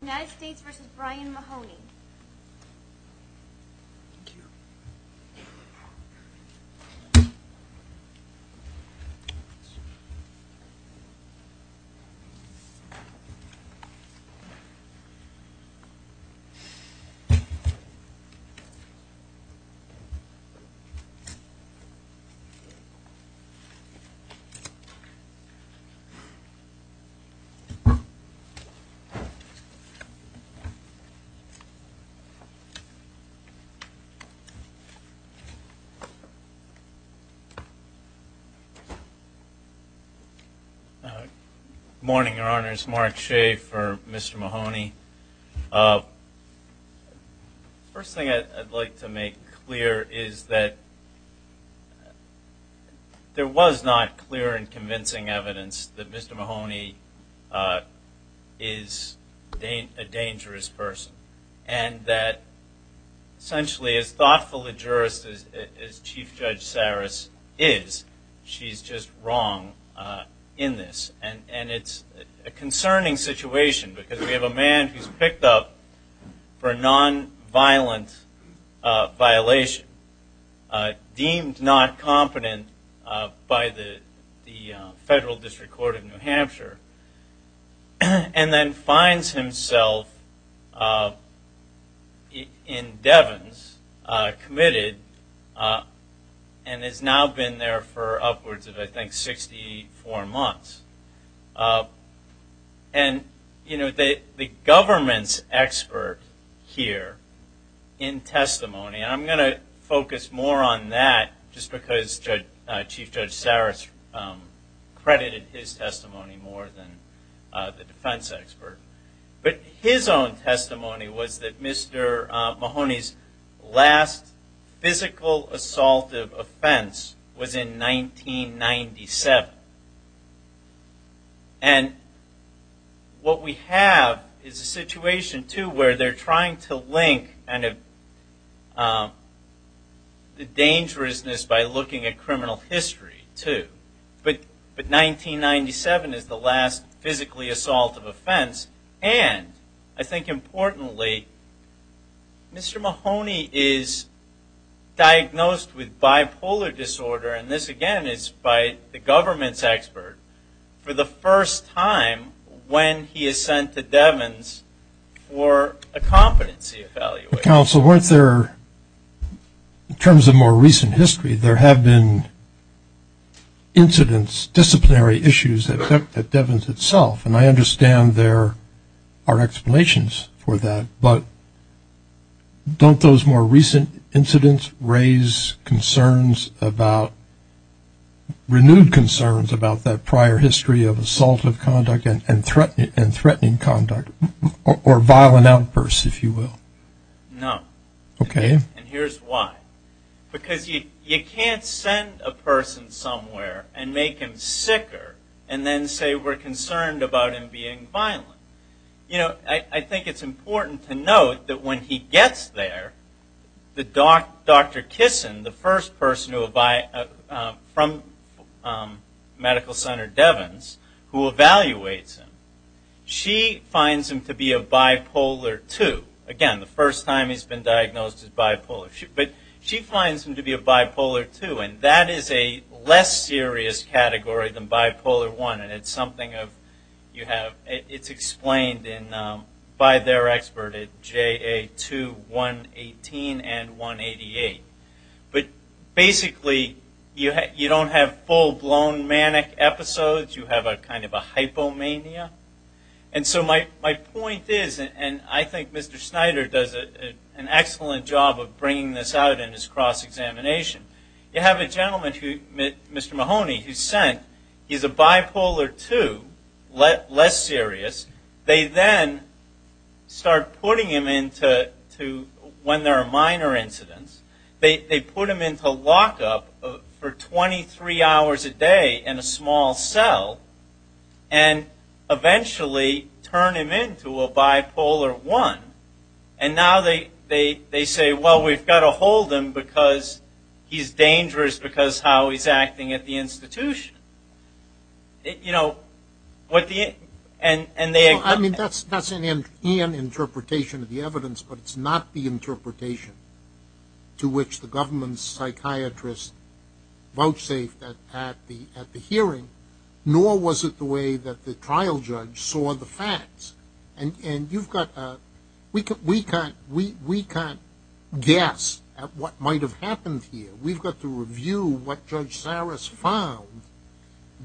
United States v. Brian Mahoney Morning, Your Honors. Mark Shea for Mr. Mahoney. First thing I'd like to make clear is that there was not clear and convincing evidence that Mr. Mahoney is a dangerous person and that essentially as thoughtful a jurist as Chief Judge Saris is, she's just wrong in this. And it's a concerning situation because we have a man who's picked up for a non-violent violation, deemed not competent by the Federal District Court of New Hampshire, and then finds himself in Devens, committed, and has now been there for upwards of I think 64 months. And, you know, the government's expert here in testimony, and I'm going to focus more on that just because Chief Judge Saris credited his testimony more than the defense expert, but his own testimony was that Mr. Mahoney's last physical assaultive offense was in 1997. And what we have is a situation, too, where they're trying to link the dangerousness by looking at and I think importantly, Mr. Mahoney is diagnosed with bipolar disorder, and this again is by the government's expert, for the first time when he is sent to Devens for a competency evaluation. Counsel, weren't there, in terms of more recent history, there have been incidents, disciplinary issues at Devens itself, and I understand there are explanations for that, but don't those more recent incidents raise concerns about, renewed concerns about that prior history of assaultive conduct and threatening conduct, or violent outbursts, if you will? No. And here's why. Because you can't send a person somewhere and make them sicker and then say we're concerned about him being violent. You know, I think it's important to note that when he gets there, Dr. Kissin, the first person from Medical Center Devens who evaluates him, she finds him to be a bipolar 2, and that is a less serious category than bipolar 1, and it's explained by their expert at JA 2, 118, and 188. But basically, you don't have full-blown manic episodes, you have a kind of an excellent job of bringing this out in his cross-examination. You have a gentleman, Mr. Mahoney, who's sent, he's a bipolar 2, less serious, they then start putting him into, when there are minor incidents, they put him into lockup for 23 hours a day in a small cell, and eventually turn him into bipolar 1, and now they say, well, we've got to hold him because he's dangerous because of how he's acting at the institution. You know, and they- I mean, that's an interpretation of the evidence, but it's not the interpretation to which the government's psychiatrist vouchsafed at the hearing, nor was it the way that the trial judge saw the facts. And you've got, we can't guess at what might have happened here. We've got to review what Judge Saras found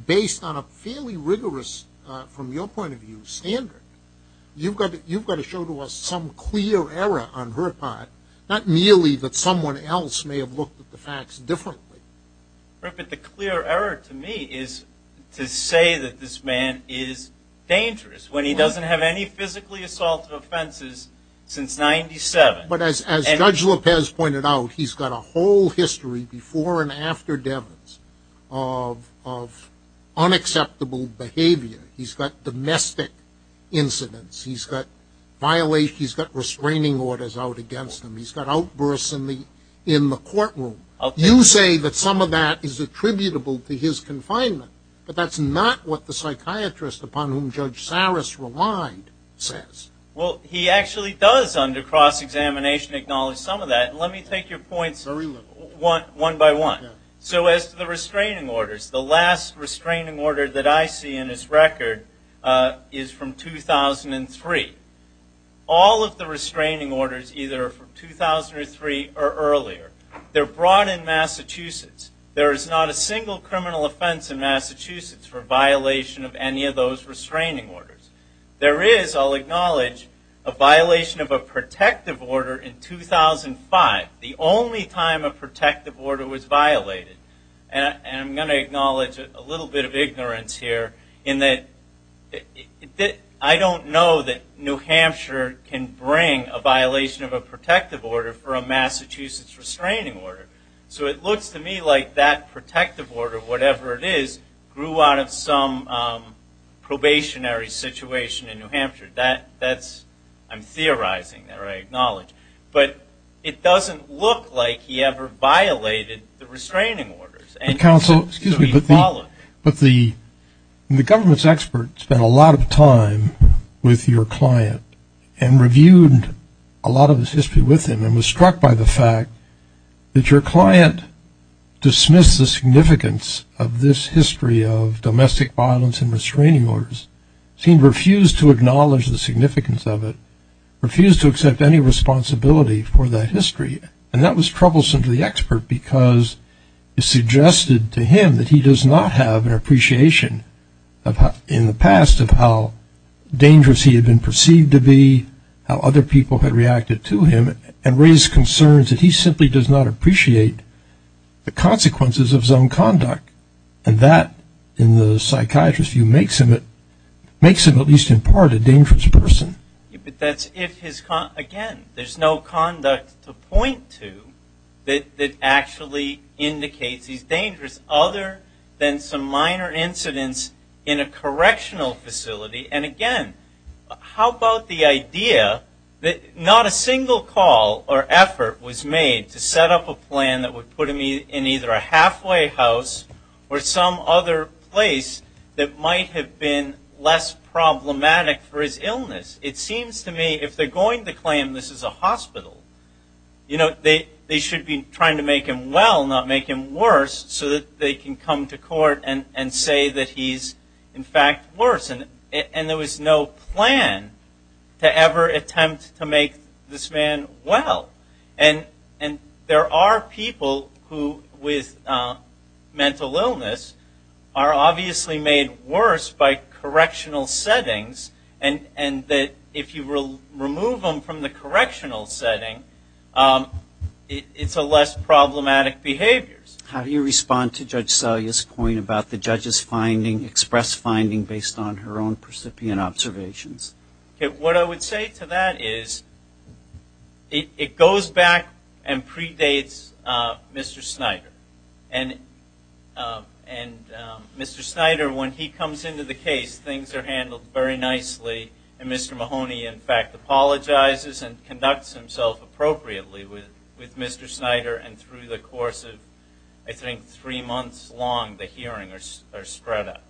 based on a fairly rigorous, from your point of view, standard. You've got to show to us some clear error on her part, not merely that someone else may have looked at the facts differently. But the clear error to me is to say that this man is dangerous when he doesn't have any physically assaultive offenses since 97. But as Judge Lopez pointed out, he's got a whole history before and after Devens of unacceptable behavior. He's got domestic incidents, he's got violations, he's got restraining orders out against him, he's got outbursts in the courtroom. You say that some of that is attributable to his confinement, but that's not what the psychiatrist upon whom Judge Saras relied says. Well, he actually does under cross-examination acknowledge some of that. Let me take your points one by one. So as to the restraining orders, the last restraining order that I see in his record is from 2003. All of the restraining orders, either from 2003 or earlier, they're brought in Massachusetts. There is not a single criminal offense in Massachusetts for violation of any of those restraining orders. There is, I'll acknowledge, a violation of a protective order in 2005, the only time a protective order was violated. And I'm going to acknowledge a little bit of ignorance here in that I don't know that New Hampshire can bring a violation of a protective order for a Massachusetts restraining order. So it looks to me like that protective order, whatever it is, grew out of some probationary situation in New Hampshire. That's, I'm theorizing there, I acknowledge. But it doesn't look like he ever violated the restraining orders. But the government's expert spent a lot of time with your client and reviewed a lot of his history with him and was struck by the fact that your client dismissed the significance of this history of domestic violence and restraining orders. He refused to acknowledge the significance of it, refused to accept any responsibility for that history. And that was suggested to him that he does not have an appreciation in the past of how dangerous he had been perceived to be, how other people had reacted to him, and raised concerns that he simply does not appreciate the consequences of some conduct. And that, in the psychiatrist's view, makes him at least in part a dangerous person. But that's if his, again, there's no conduct to dangerous other than some minor incidents in a correctional facility. And again, how about the idea that not a single call or effort was made to set up a plan that would put him in either a halfway house or some other place that might have been less problematic for his illness. It seems to me if they're going to claim this is a hospital, you know, they should be trying to make him well, not make him worse, so that they can come to court and say that he's in fact worse. And there was no plan to ever attempt to make this man well. And there are people who with mental illness are obviously made worse by correctional settings. And that if you remove them from the correctional setting, it's a less problematic behavior. How do you respond to Judge Selye's point about the judge's finding, expressed finding, based on her own percipient observations? What I would say to that is it goes back and predates Mr. Snyder. And Mr. Snyder, when he comes into the case, things are handled very nicely. And Mr. Mahoney, in fact, apologizes and conducts himself appropriately with Mr. Snyder. And through the course of, I think, three months long, the hearings are spread out.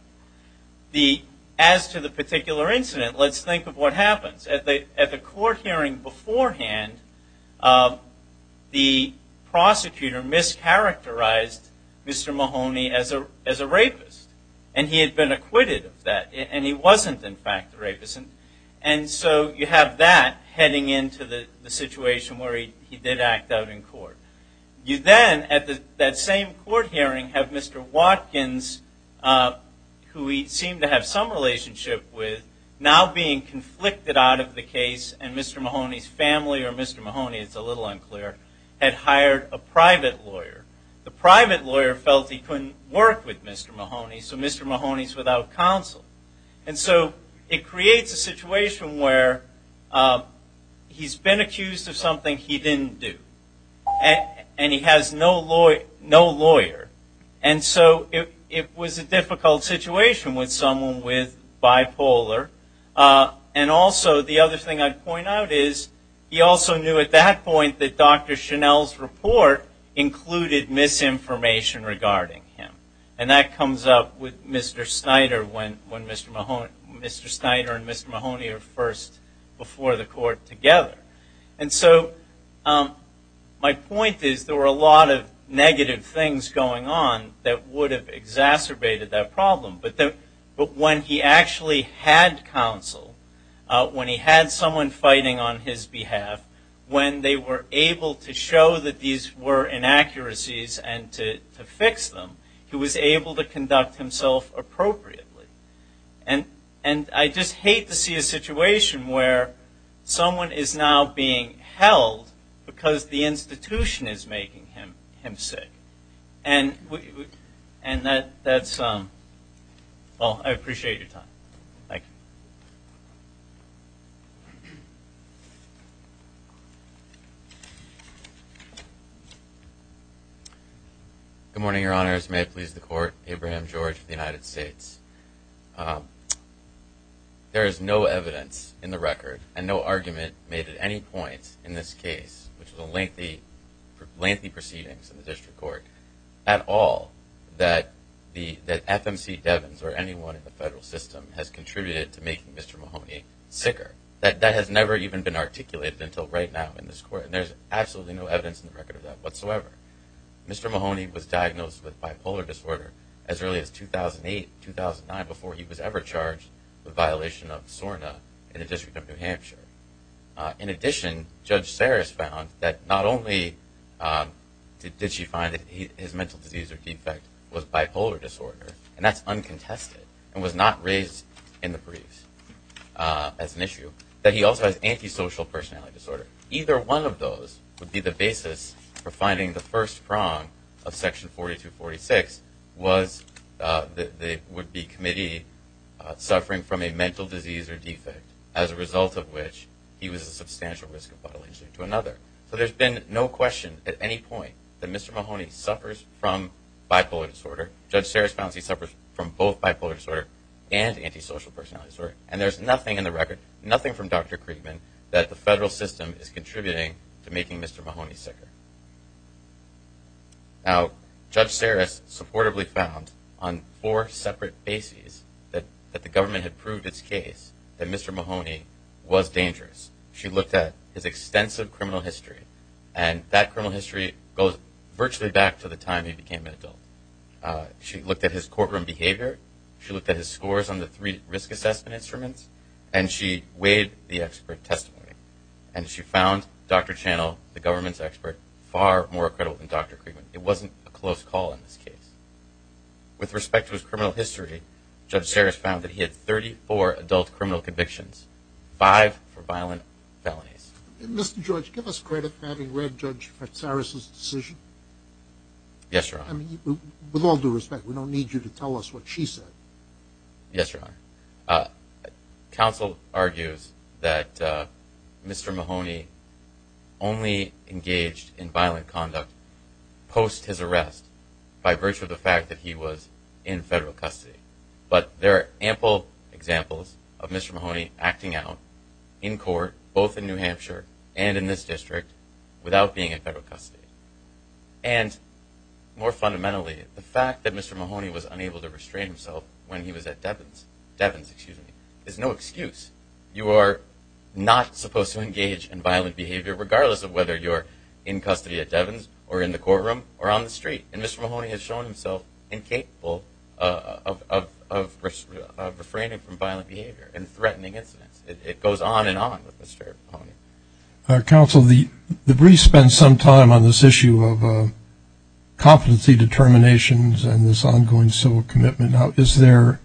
As to the particular incident, let's think of what happens. At the court hearing beforehand, the prosecutor mischaracterized Mr. Mahoney as a rapist. And he had been acquitted of that. And he wasn't, in fact, a rapist. And so you have that heading into the situation where he did act out in court. You then, at that same court hearing, have Mr. Watkins, who he seemed to have some relationship with, now being conflicted out of the case. And Mr. Mahoney's family, or Mr. Mahoney, it's a little unclear, had hired a private lawyer. The private lawyer felt he couldn't work with Mr. Mahoney, so Mr. Mahoney's without counsel. And so it creates a situation where he's been accused of something he didn't do. And he has no lawyer. And so it was a difficult situation with someone with bipolar. And also, the other thing I'd point out is, he also knew at that point that Dr. Chenelle's report included misinformation regarding him. And that comes up with Mr. Snyder when Mr. Mahoney, Mr. Snyder and Mr. Mahoney are first before the court together. And so my point is, there were a lot of negative things going on that would have exacerbated that problem. But when he actually had counsel, when he had someone fighting on his behalf, when they were able to show that these were inaccuracies and to fix them, he was able to conduct himself appropriately. And I just hate to see a situation where someone is now being held because the institution is making him sick. And that's, well, I appreciate your time. Thank you. Good morning, Your Honors. May it please the Court. Abraham George, United States. There is no evidence in the record and no argument made at any point in this case, which is a lengthy, lengthy proceedings in the district court, at all that FMC Devins or anyone in the federal system has contributed to making Mr. Mahoney sicker. That has never even been articulated until right now in this court. And there's absolutely no evidence in the record of that whatsoever. Mr. Mahoney was diagnosed with bipolar disorder as early as 2008, 2009, before he was ever charged with violation of SORNA in the District of New Hampshire. In addition, Judge Saris found that not only did she find that his mental disease or defect was bipolar disorder, and that's uncontested, and was not raised in the briefs as an issue, that he also has antisocial personality disorder. Either one of those would be the basis for finding the first prong of Section 4246 was that there would be committee suffering from a mental disease or defect, as a result of which he was a substantial risk of bodily injury to another. So there's been no question at any point that Mr. Mahoney suffers from bipolar disorder. Judge Saris found he suffers from both bipolar disorder and antisocial personality disorder. And there's nothing in the record, nothing from Dr. Kriegman, that the federal system is contributing to making Mr. Mahoney sicker. Now, Judge Saris supportably found on four separate bases that the government had proved its case that Mr. Mahoney was dangerous. She looked at his extensive criminal history, and that criminal history goes virtually back to the time he became an adult. She looked at his courtroom behavior, she looked at his scores on the three risk assessment instruments, and she weighed the expert testimony. And she found Dr. Channel, the government's expert, far more credible than Dr. Kriegman. It wasn't a close call in this case. With respect to his criminal history, Judge Saris found that he had 34 adult criminal convictions, five for violent felonies. And Mr. Judge, give us credit for having read Judge Saris's decision. Yes, Your Honor. I mean, with all due respect, we don't need you to tell us what she said. Yes, Your Honor. Counsel argues that Mr. Mahoney only engaged in violent conduct post his arrest, by virtue of the fact that he was in federal custody. But there are ample examples of Mr. Mahoney acting out in court, both in New Hampshire, and in this district, without being in federal custody. And more fundamentally, the fact that Mr. Mahoney was unable to restrain himself when he was at Devins, Devins, excuse me, is no excuse. You are not supposed to engage in violent behavior, regardless of whether you're in custody at Devins, or in the courtroom, or on the street. And Mr. Mahoney has shown himself incapable of refraining from violent behavior and threatening incidents. It goes on and on with Mr. Mahoney. Counsel, the brief spent some time on this issue of competency determinations and this ongoing civil commitment. Now, is there,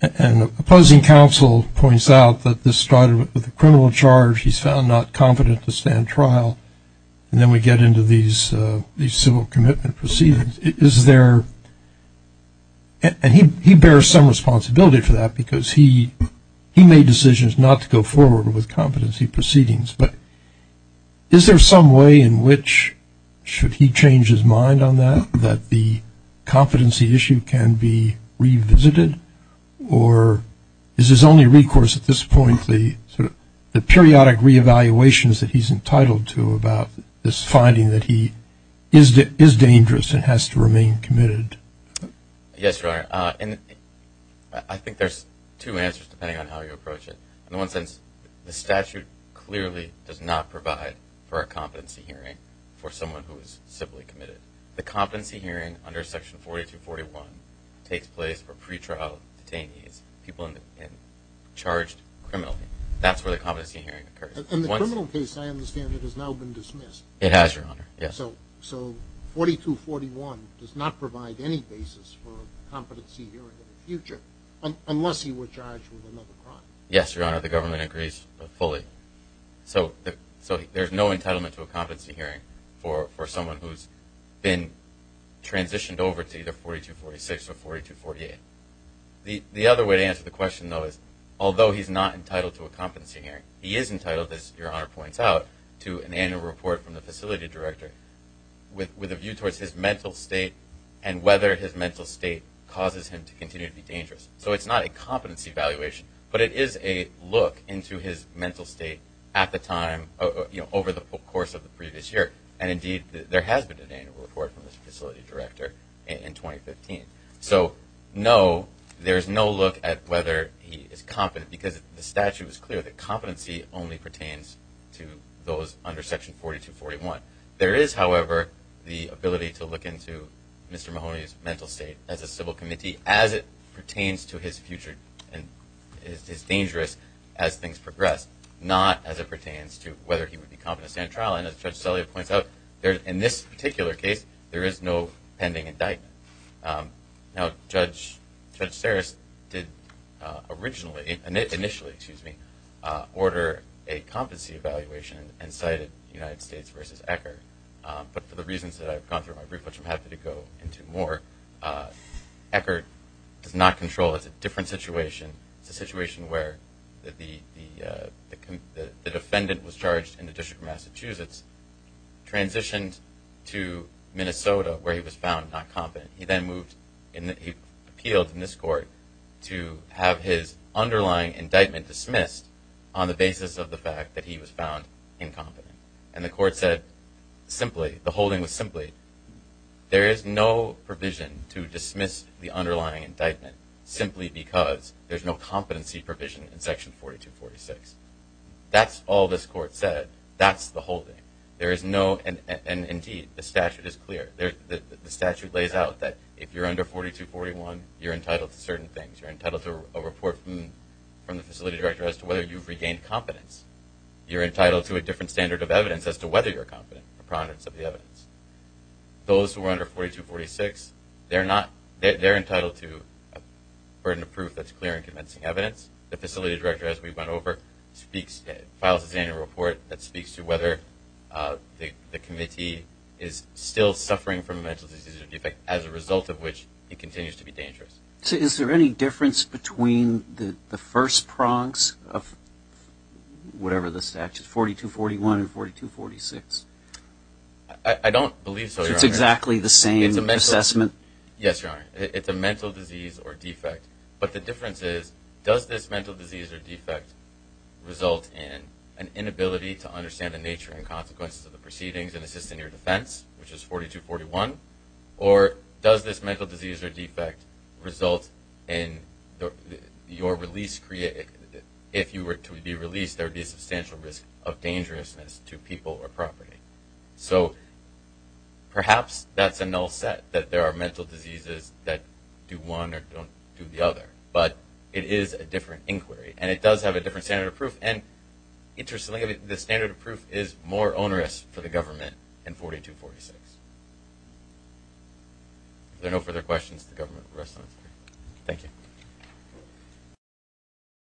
and the opposing counsel points out that this started with a stand trial, and then we get into these civil commitment proceedings. Is there, and he bears some responsibility for that, because he made decisions not to go forward with competency proceedings. But is there some way in which, should he change his mind on that, that the about this finding that he is dangerous and has to remain committed? Yes, Your Honor. And I think there's two answers, depending on how you approach it. In one sense, the statute clearly does not provide for a competency hearing for someone who is civilly committed. The competency hearing under Section 4241 takes place for pretrial detainees, people charged criminally. That's where the competency hearing occurs. In the criminal case, I understand, it has now been dismissed. It has, Your Honor, yes. So, 4241 does not provide any basis for a competency hearing in the future, unless he were charged with another crime. Yes, Your Honor, the government agrees fully. So, there's no entitlement to a competency hearing for someone who's been transitioned over to either 4246 or 4248. The other way to answer the question, though, is although he's not entitled to a competency hearing, he is entitled, as Your Honor points out, to an annual report from the facility director with a view towards his mental state and whether his mental state causes him to continue to be dangerous. So, it's not a competency evaluation, but it is a look into his mental state at the time, over the course of the previous year. And, indeed, there has been an annual report from the facility director in 2015. So, no, there's no look at whether he is competent, because the statute is clear that competency only pertains to those under Section 4241. There is, however, the ability to look into Mr. Mahoney's mental state as a civil committee, as it pertains to his future and is dangerous as things progress, not as it pertains to whether he would be competent to stand trial. And, as Judge Celia points out, in this particular case, there is no pending indictment. Now, Judge Ceres did originally, initially, excuse me, order a competency evaluation and cited United States versus Eckerd. But, for the reasons that I've gone through in my brief, which I'm happy to go into more, Eckerd does not control. It's a different situation. It's a situation where the defendant was charged in the District of Massachusetts, transitioned to Minnesota, where he was found not competent. He then moved, he appealed in this court to have his underlying indictment dismissed on the basis of the fact that he was found incompetent. And the court said simply, the holding was simply, there is no provision to dismiss the underlying indictment, simply because there's no competency provision in Section 4246. That's all this court said. That's the holding. There is no, and indeed, the statute is clear. The statute lays out that if you're under 4241, you're entitled to certain things. You're entitled to a report from the facility director as to whether you've regained competence. You're entitled to a different standard of evidence as to whether you're competent, a prominence of the evidence. Those who are under 4246, they're not, they're entitled to a burden of proof that's clear and convincing evidence. The facility director, as we went over, speaks, files his annual report that speaks to whether the committee is still suffering from a mental disease or defect, as a result of which he continues to be dangerous. So is there any difference between the first prongs of whatever the statute, 4241 and 4246? I don't believe so, Your Honor. It's exactly the same assessment? Yes, Your Honor. It's a mental disease or defect. But the difference is, does this mental disease or defect result in an inability to understand the nature and consequences of the proceedings and assist in your defense, which is 4241? Or does this mental disease or defect result in your release, if you were to be released, there would be a substantial risk of dangerousness to people or property? So perhaps that's a null set, that there are mental diseases that do one or don't do the other. But it is a different inquiry. And it does have a different standard of proof. And interestingly, the standard of proof is more onerous for the government in 4246. If there are no further questions, the government will rest on its feet. Thank you.